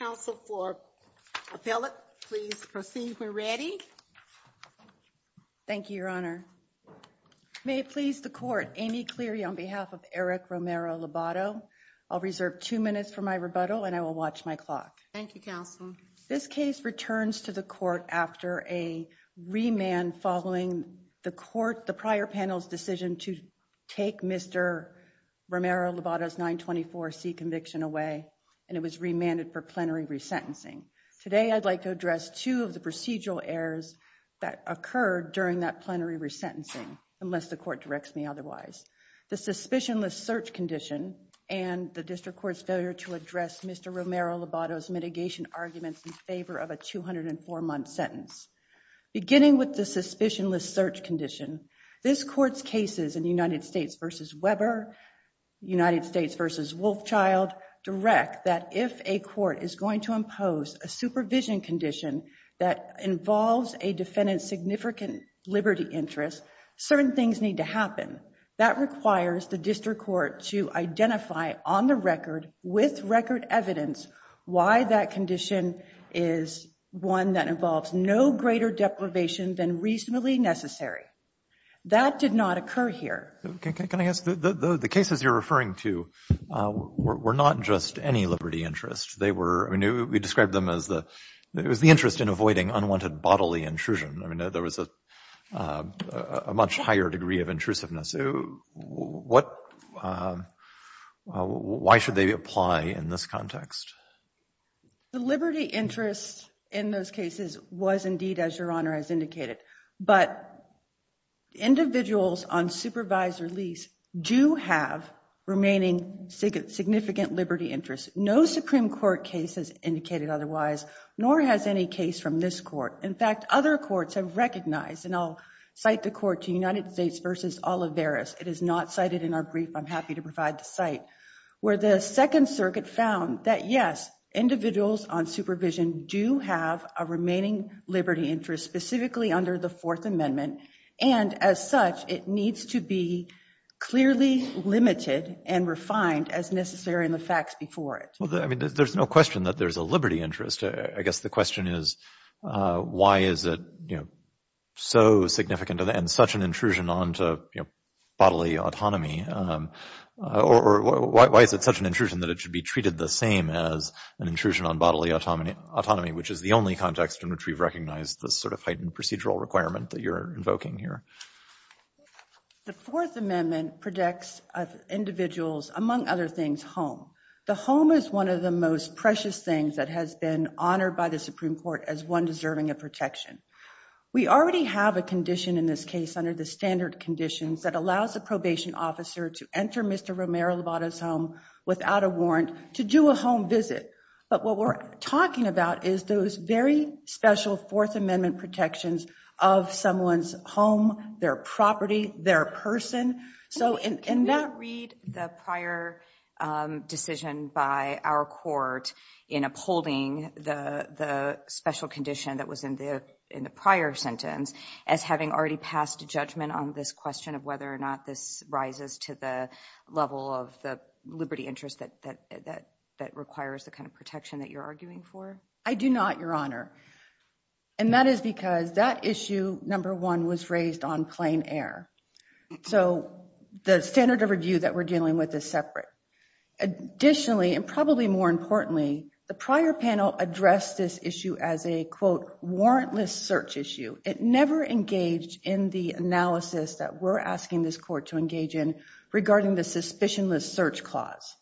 Counsel for Philip, please proceed. We're ready. Thank you, Your Honor. May it please the Court, Amy Cleary on behalf of Eric Romero-Lobato. I'll reserve two minutes for my rebuttal and I will watch my clock. Thank you, Counsel. This case returns to the Court after a remand following the Court, the prior panel's decision to take Mr. Romero-Lobato's 924C conviction away and it was remanded for plenary resentencing. Today, I'd like to address two of the procedural errors that occurred during that plenary resentencing, unless the Court directs me otherwise. The suspicionless search condition and the District Court's failure to address Mr. Romero-Lobato's mitigation arguments in favor of a 204-month sentence. Beginning with the suspicionless search condition, this Court's cases in the United States v. Weber, United States v. Wolfchild direct that if a court is going to impose a supervision condition that involves a defendant's significant liberty interest, certain things need to happen. That requires the District Court to identify on the record with record evidence why that condition is one that involves no greater deprivation than reasonably necessary. That did not occur here. Can I ask, the cases you're referring to were not just any liberty interest. They were, I mean, we described them as the interest in avoiding unwanted bodily intrusion. I mean, there was a much higher degree of intrusiveness. What, why should they apply in this context? The liberty interest in those cases was indeed, as Your Honor has indicated, but individuals on supervised release do have remaining significant liberty interests. No Supreme Court case has indicated otherwise, nor has any case from this Court. In fact, other courts have recognized, and I'll cite the court to United States v. Olivares, it is not cited in our brief, I'm happy to provide the site, where the Second Circuit found that, yes, individuals on supervision do have a remaining liberty interest, specifically under the Fourth Amendment, and as such, it needs to be clearly limited and refined as necessary in the facts before it. Well, I mean, there's no question that there's a liberty interest. I guess the question is, why is it, you know, so significant and such an intrusion onto bodily autonomy, or why is it such an intrusion that it should be treated the same as an intrusion on bodily autonomy, which is the only context in which we've recognized this sort of heightened procedural requirement that you're invoking here? The Fourth Amendment protects individuals, among other things, home. The home is one of the most precious things that has been honored by the Supreme Court as one deserving of protection. We already have a condition in this case under the standard conditions that allows a probation officer to enter Mr. Romero-Lovato's home without a warrant to do a home visit, but what we're talking about is those very special Fourth Amendment protections of someone's their property, their person. Can we not read the prior decision by our court in upholding the special condition that was in the prior sentence as having already passed a judgment on this question of whether or not this rises to the level of the liberty interest that requires the kind of protection that you're arguing for? I do not, Your Honor, and that is because that issue, number one, was raised on plain air. So the standard of review that we're dealing with is separate. Additionally, and probably more importantly, the prior panel addressed this issue as a, quote, warrantless search issue. It never engaged in the analysis that we're asking this court to engage in regarding the suspicionless search clause.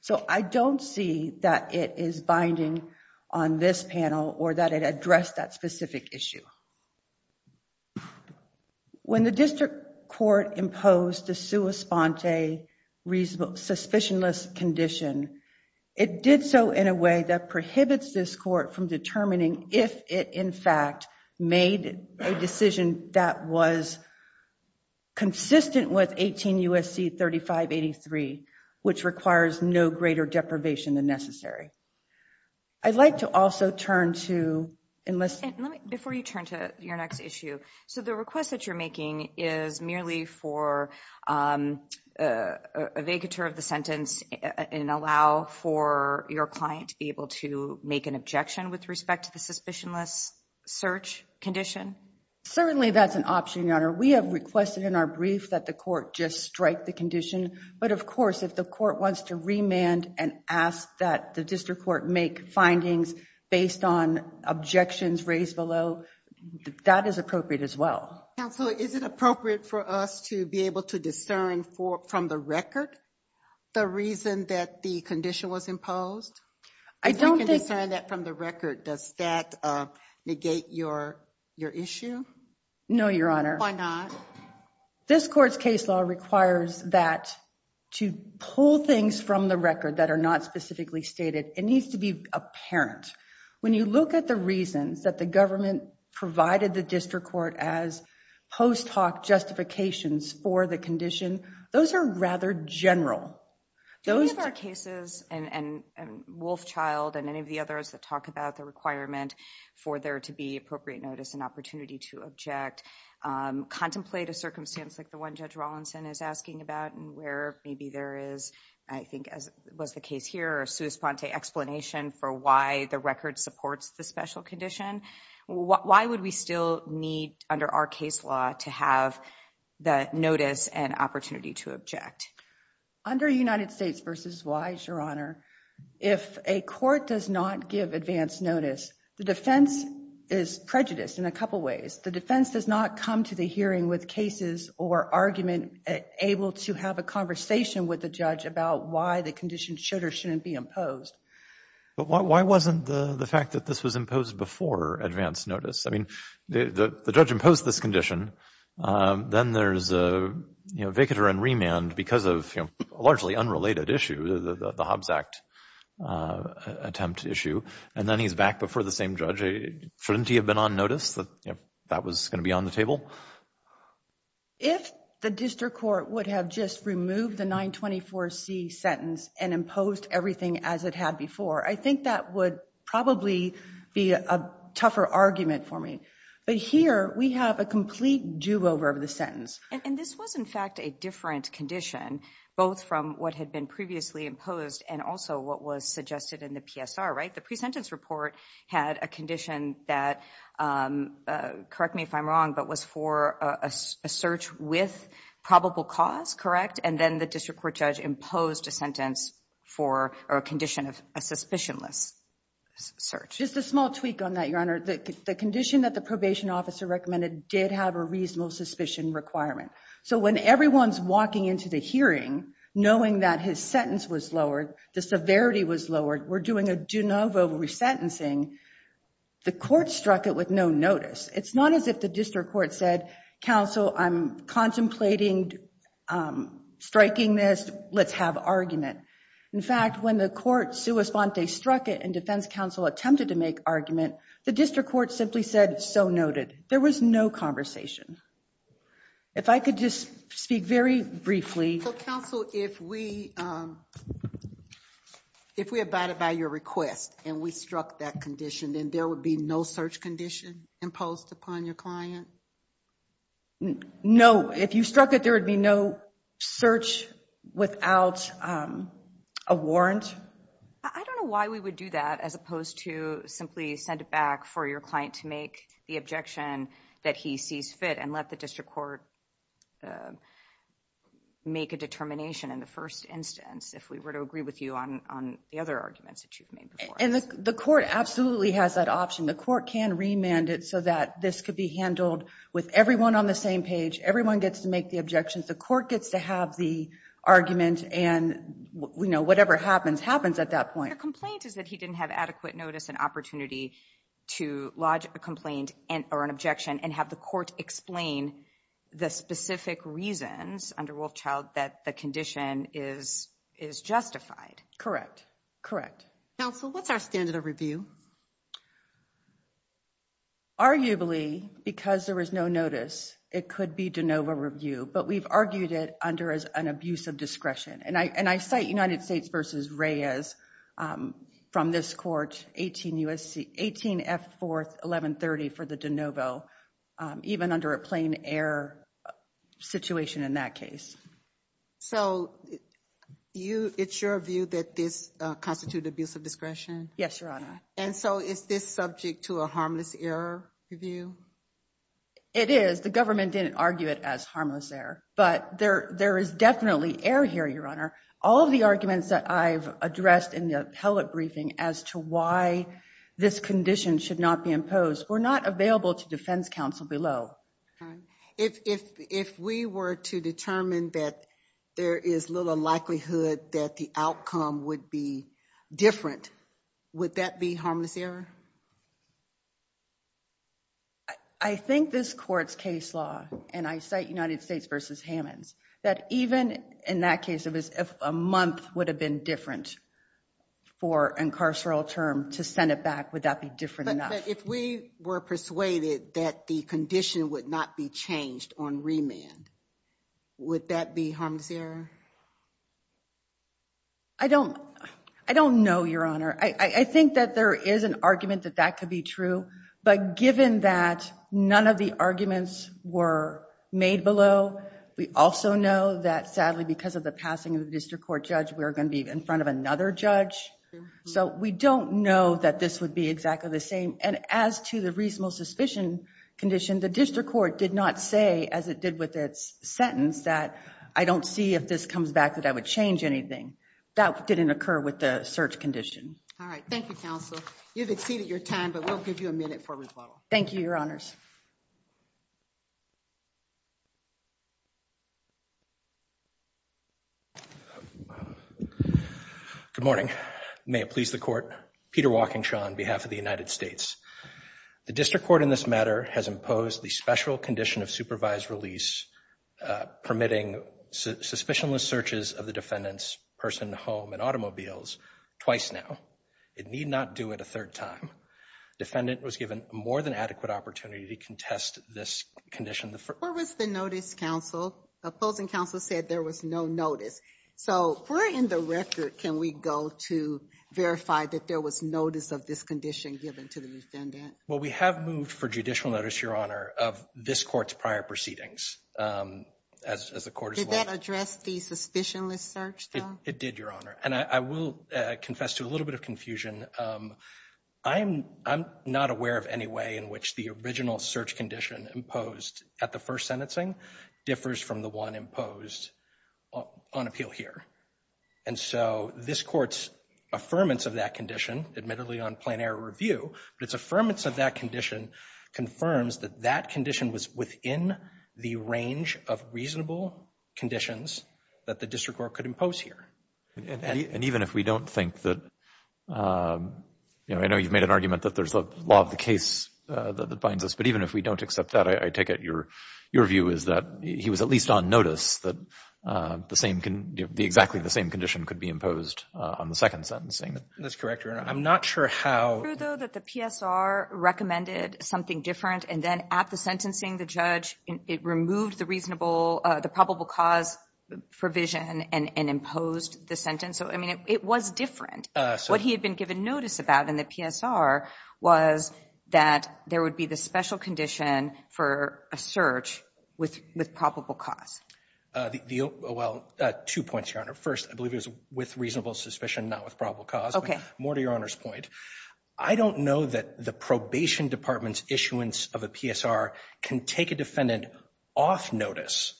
So I don't see that it is binding on this panel or that it addressed that specific issue. When the district court imposed the sua sponte suspicionless condition, it did so in a way that prohibits this court from determining if it, in fact, made a decision that was consistent with 18 U.S.C. 3583, which requires no greater deprivation than necessary. I'd like to also turn to, and let's, let me, before you turn to your next issue, so the request that you're making is merely for a vacatur of the sentence and allow for your client to be able to make an objection with respect to the suspicionless search condition? Certainly that's an option, Your Honor. We have requested in our brief that the court just strike the condition, but of course, if the court wants to remand and ask that the district court make findings based on objections raised below, that is appropriate as well. Counsel, is it appropriate for us to be able to discern from the record the reason that the condition was imposed? I don't think... If we can discern that from the record, does that negate your issue? No, Your Honor. Why not? This court's case law requires that to pull things from the record that are not specifically stated, it needs to be apparent. When you look at the reasons that the government provided the district court as post hoc justifications for the condition, those are rather general. Do any of our cases, and Wolfchild and any of the others that talk about the requirement for there to be appropriate notice and opportunity to object, contemplate a circumstance like the one Judge Rawlinson is asking about, and where maybe there is, I think as was the case here, a sua sponte explanation for why the record supports the special condition? Why would we still need under our case law to have the notice and opportunity to object? Under United States v. Wise, Your Honor, if a court does not give advance notice, the defense is prejudiced in a couple ways. The defense does not come to the hearing with cases or argument able to have a conversation with the judge about why the condition should or shouldn't be imposed. But why wasn't the fact that this was imposed before advance notice? I mean, the judge imposed this condition. Then there's a, you know, vicator and remand because of, you know, a largely unrelated issue, the Hobbs Act attempt issue. And then he's back before the same judge. Shouldn't he have been on notice that, you know, that was going to be on the table? If the district court would have just removed the 924C sentence and imposed everything as it had before, I think that would probably be a tougher argument for me. But here we have a complete do-over of the sentence. And this was in fact a different condition, both from what had been previously imposed and also what was suggested in the PSR, right? The pre-sentence report had a condition that, correct me if I'm wrong, but was for a search with probable cause, correct? And then the district court judge imposed a sentence for or a condition of a suspicionless search. Just a small tweak on that, Your Honor. The condition that the probation officer recommended did have a reasonable suspicion requirement. So when everyone's walking into the hearing, knowing that his sentence was lowered, the severity was lowered, we're doing a de novo resentencing. The court struck it with no notice. It's not as if the district court said, counsel, I'm contemplating striking this, let's have argument. In fact, when the court sua sponte struck it and defense counsel attempted to make argument, the district court simply said, so noted. There was no conversation. If I could just speak very briefly. So counsel, if we, if we abided by your request and we struck that condition, then there would be no search condition imposed upon your client? No. If you struck it, there would be no search without a warrant. I don't know why we would do that as opposed to simply send it back for your client to make the objection that he sees fit and let the district court make a determination in the first instance, if we were to agree with you on the other arguments And the court absolutely has that option. The court can remand it so that this could be handled with everyone on the same page. Everyone gets to make the objections. The court gets to have the argument and, you know, whatever happens, happens at that point. The complaint is that he didn't have adequate notice and opportunity to lodge a complaint or an objection and have the court explain the specific reasons under Wolfchild that the condition is, is justified. Correct. Correct. Counsel, what's our standard of review? Arguably, because there was no notice, it could be de novo review, but we've argued it under as an abuse of discretion. And I, and I cite United States versus Reyes from this court, 18 USC, 18 F fourth, 1130 for the de novo, even under a plain error situation in that case. So you, it's your view that this constitute abuse of discretion? Yes, Your Honor. And so is this subject to a harmless error review? It is. The government didn't argue it as harmless error, but there, there is definitely error here, Your Honor. All of the arguments that I've addressed in the appellate briefing as to why this condition should not be imposed were not available to defense counsel below. If, if, if we were to determine that there is little likelihood that the outcome would be different, would that be harmless error? I think this court's case law, and I cite United States versus Hammonds, that even in that case, it was a month would have been different for incarceral term to send it back. Would that be different enough? If we were persuaded that the condition would not be changed on remand, would that be harmless error? I don't, I don't know, Your Honor. I think that there is an argument that that could be true, but given that none of the arguments were made below, we also know that sadly, because of the district court judge, we're going to be in front of another judge. So we don't know that this would be exactly the same. And as to the reasonable suspicion condition, the district court did not say, as it did with its sentence, that I don't see if this comes back that I would change anything. That didn't occur with the search condition. All right. Thank you, counsel. You've exceeded your time, but we'll give you a minute for rebuttal. Thank you, Your Honors. Good morning. May it please the court. Peter Walkingshaw on behalf of the United States. The district court in this matter has imposed the special condition of supervised release, permitting suspicionless searches of the defendant's person, home, and automobiles twice now. It need not do it a third time. Defendant was given more than adequate opportunity to contest this condition. Where was the notice, counsel? The opposing counsel said there was no notice. So where in the record can we go to verify that there was notice of this condition given to the defendant? Well, we have moved for judicial notice, Your Honor, of this court's prior proceedings. Did that address the suspicionless search, though? It did, Your Honor. And I will confess to a little bit of confusion. I'm not aware of any way in which the original search condition imposed at the first sentencing differs from the one imposed on appeal here. And so this court's affirmance of that condition, admittedly on plenary review, but its affirmance of that condition confirms that that condition was within the range of reasonable conditions that the district court could impose here. And even if we don't think that, you know, I know you've made an argument that there's a law of the case that binds us, but even if we don't accept that, I take it your view is that he was at least on notice that exactly the same condition could be imposed on the second sentencing. That's correct, Your Honor. I'm not sure how— It's true, though, that the PSR recommended something different, and then at the sentencing, the judge, it removed the reasonable, the probable cause provision and imposed the sentence. So, I mean, it was different. What he had been given notice about in the PSR was that there would be the special condition for a search with probable cause. Well, two points, Your Honor. First, I believe it was with reasonable suspicion, not with probable cause. Okay. More to Your Honor's point. I don't know that the probation department's issuance of a PSR can take a defendant off notice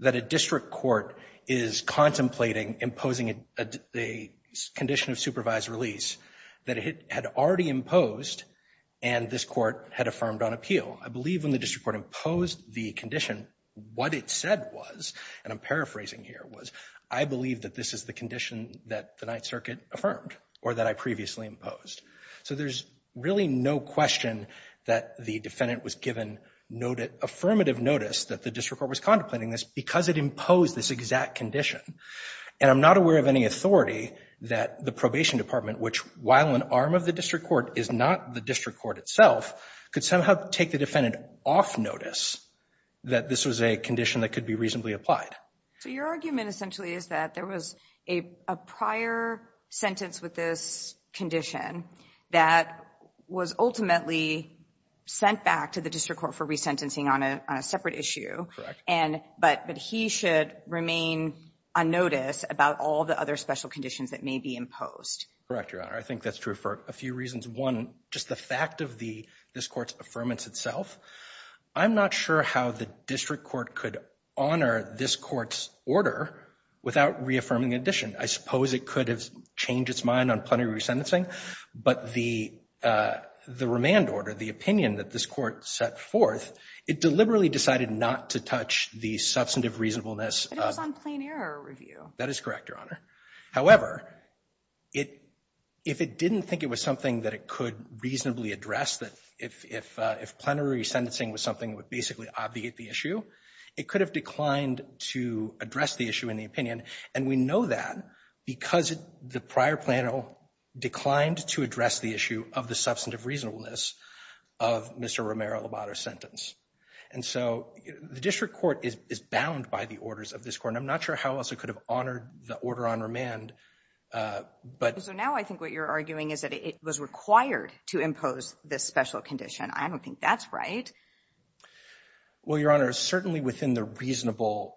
that a district court is contemplating imposing a condition of supervised release that it had already imposed and this court had affirmed on appeal. I believe when the district court imposed the condition, what it said was, and I'm paraphrasing here, was, I believe that this is the condition that the Ninth Circuit affirmed or that I previously imposed. So there's really no question that the defendant was given affirmative notice that the district court was contemplating this because it imposed this exact condition. And I'm not aware of any authority that the probation department, which, while an arm of the district court, is not the district court itself, could somehow take the defendant off notice that this was a condition that could be reasonably applied. So your argument essentially is that there was a prior sentence with this condition that was ultimately sent back to the district court for resentencing on a separate issue. Correct. And but he should remain on notice about all the other special conditions that may be imposed. Correct, Your Honor. I think that's true for a few reasons. One, just the fact of this court's affirmance itself, I'm not sure how the district court could honor this court's order without reaffirming the addition. I suppose it could have changed its mind on plenary resentencing, but the remand order, the opinion that this court set forth, it deliberately decided not to touch the substantive reasonableness of the court's decision. But it was on plain error review. That is correct, Your Honor. However, if it didn't think it was something that it could reasonably address, that if plenary resentencing was something that would basically obviate the issue, it could have declined to address the issue in the opinion. And we know that because the prior plano declined to address the issue of the substantive reasonableness of Mr. Romero-Lobato's sentence. And so the district court is bound by the orders of this court, and I'm not sure how else it could have honored the order on remand. So now I think what you're arguing is that it was required to impose this special condition. I don't think that's right. Well, Your Honor, it's certainly within the reasonable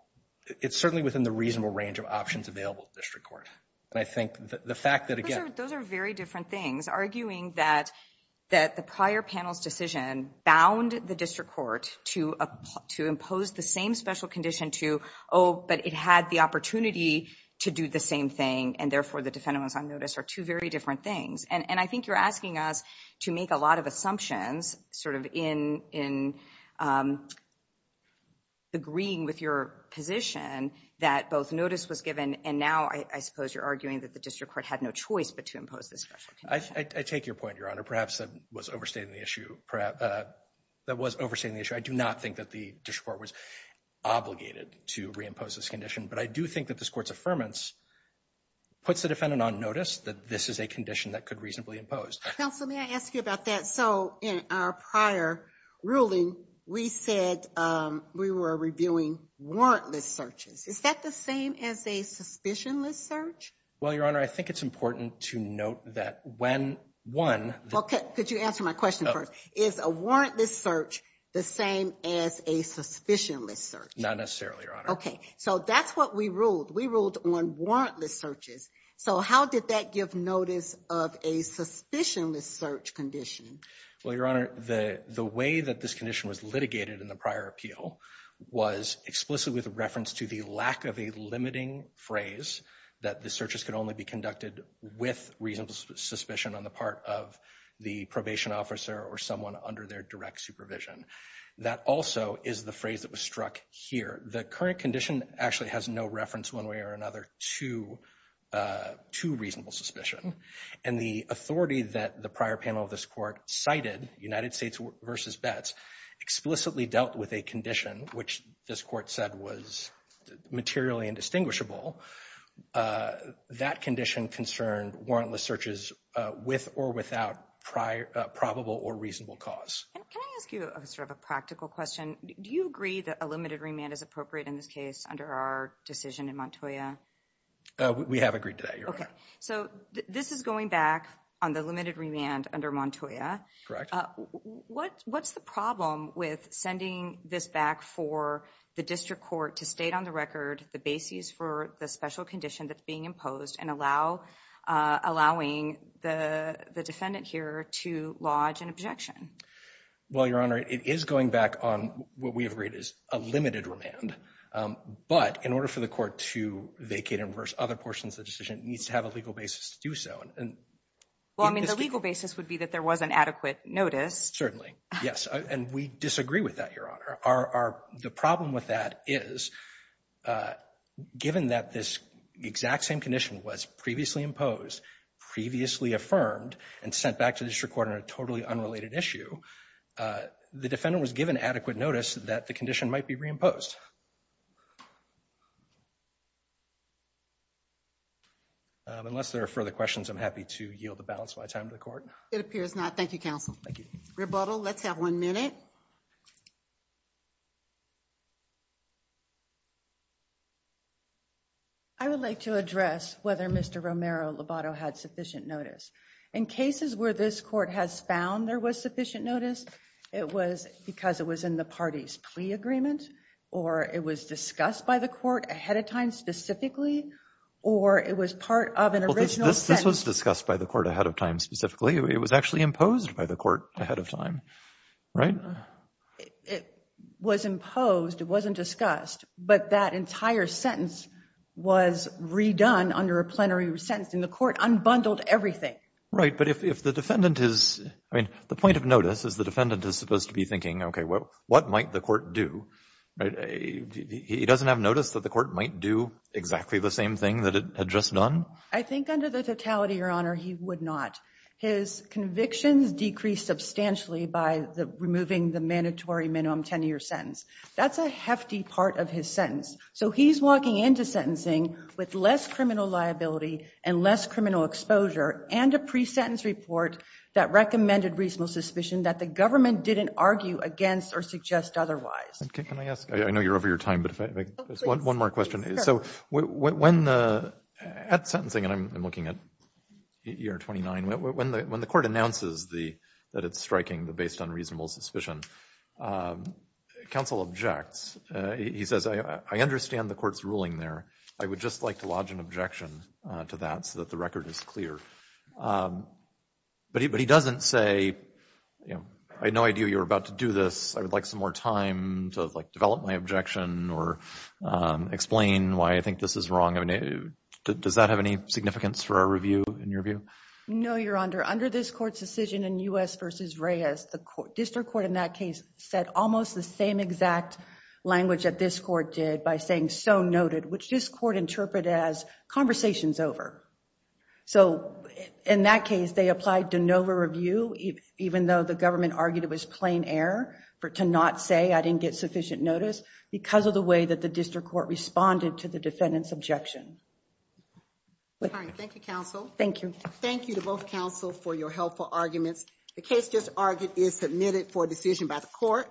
range of options available to the district court. Those are very different things. Arguing that the prior panel's decision bound the district court to impose the same special condition to, oh, but it had the opportunity to do the same thing, and therefore the defendant was on notice are two very different things. And I think you're asking us to make a lot of assumptions sort of in agreeing with your position that both notice was given, and now I suppose you're arguing that the district court had no choice but to impose this special condition. I take your point, Your Honor. Perhaps that was overstating the issue. I do not think that the district court was obligated to reimpose this condition, but I do think that this court's affirmance puts the defendant on notice that this is a condition that could reasonably impose. Counsel, may I ask you about that? So in our prior ruling, we said we were reviewing warrantless searches. Is that the same as a suspicionless search? Well, Your Honor, I think it's important to note that when one... Okay. Could you answer my question first? Is a warrantless search the same as a suspicionless search? Not necessarily, Your Honor. Okay. So that's what we ruled. We ruled on warrantless searches. So how did that give notice of a suspicionless search condition? Well, Your Honor, the way that this condition was litigated in the prior appeal was explicitly with reference to the lack of a limiting phrase that the searches could only be conducted with reasonable suspicion on the part of the probation officer or someone under their direct supervision. That also is the phrase that was struck here. The current condition actually has no reference one way or another to reasonable suspicion. And the authority that the prior panel of this court cited, United States v. Betts, explicitly dealt with a condition which this court said was materially indistinguishable. That condition concerned warrantless searches with or without probable or reasonable cause. Can I ask you sort of a practical question? Do you agree that a limited remand is appropriate in this case under our decision in Montoya? We have agreed to that, Your Honor. So this is going back on the limited remand under Montoya. Correct. What's the problem with sending this back for the district court to state on the record the basis for the special condition that's being imposed and allowing the defendant here to lodge an objection? Well, Your Honor, it is going back on what we agreed is a limited remand. But in order for the court to vacate and reverse other portions of the decision, it needs to have a legal basis to do so. Well, I mean, the legal basis would be that there was an adequate notice. Certainly. Yes. And we disagree with that, Your Honor. The problem with that is, given that this exact same condition was previously imposed, previously affirmed, and sent back to the district court on a totally unrelated issue, the defendant was given adequate notice that the condition might be reimposed. Thank you, Your Honor. Unless there are further questions, I'm happy to yield the balance of my time to the court. It appears not. Thank you, counsel. Thank you. Rebuttal. Let's have one minute. I would like to address whether Mr. Romero-Lobato had sufficient notice. In cases where this court has found there was sufficient notice, it was because it was in the party's plea agreement, or it was discussed by the court ahead of time specifically, or it was part of an original sentence. This was discussed by the court ahead of time specifically. It was actually imposed by the court ahead of time, right? It was imposed. It wasn't discussed. But that entire sentence was redone under a plenary sentence, and the court unbundled everything. Right. But if the defendant is, I mean, the point of notice is the defendant is supposed to be thinking, what might the court do? He doesn't have notice that the court might do exactly the same thing that it had just done? I think under the totality, Your Honor, he would not. His convictions decreased substantially by removing the mandatory minimum 10-year sentence. That's a hefty part of his sentence. So he's walking into sentencing with less criminal liability and less criminal exposure and a pre-sentence report that recommended reasonable suspicion that the government didn't argue against or suggest otherwise. Can I ask? I know you're over your time, but if I could ask one more question. So when the, at sentencing, and I'm looking at year 29, when the court announces that it's striking the based unreasonable suspicion, counsel objects. He says, I understand the court's ruling there. I would just like to lodge an objection to that so that the record is clear. But he doesn't say, you know, I had no idea you were about to do this. I would like some more time to like develop my objection or explain why I think this is wrong. I mean, does that have any significance for our review, in your view? No, Your Honor. Under this court's decision in U.S. v. Reyes, the district court in that case said almost the same exact language that this court did by saying, so noted, which this court interpreted as conversations over. So in that case, they applied de novo review, even though the government argued it was plain error to not say I didn't get sufficient notice because of the way that the district court responded to the defendant's objection. All right. Thank you, counsel. Thank you. Thank you to both counsel for your helpful arguments. The case just argued is submitted for decision by the court.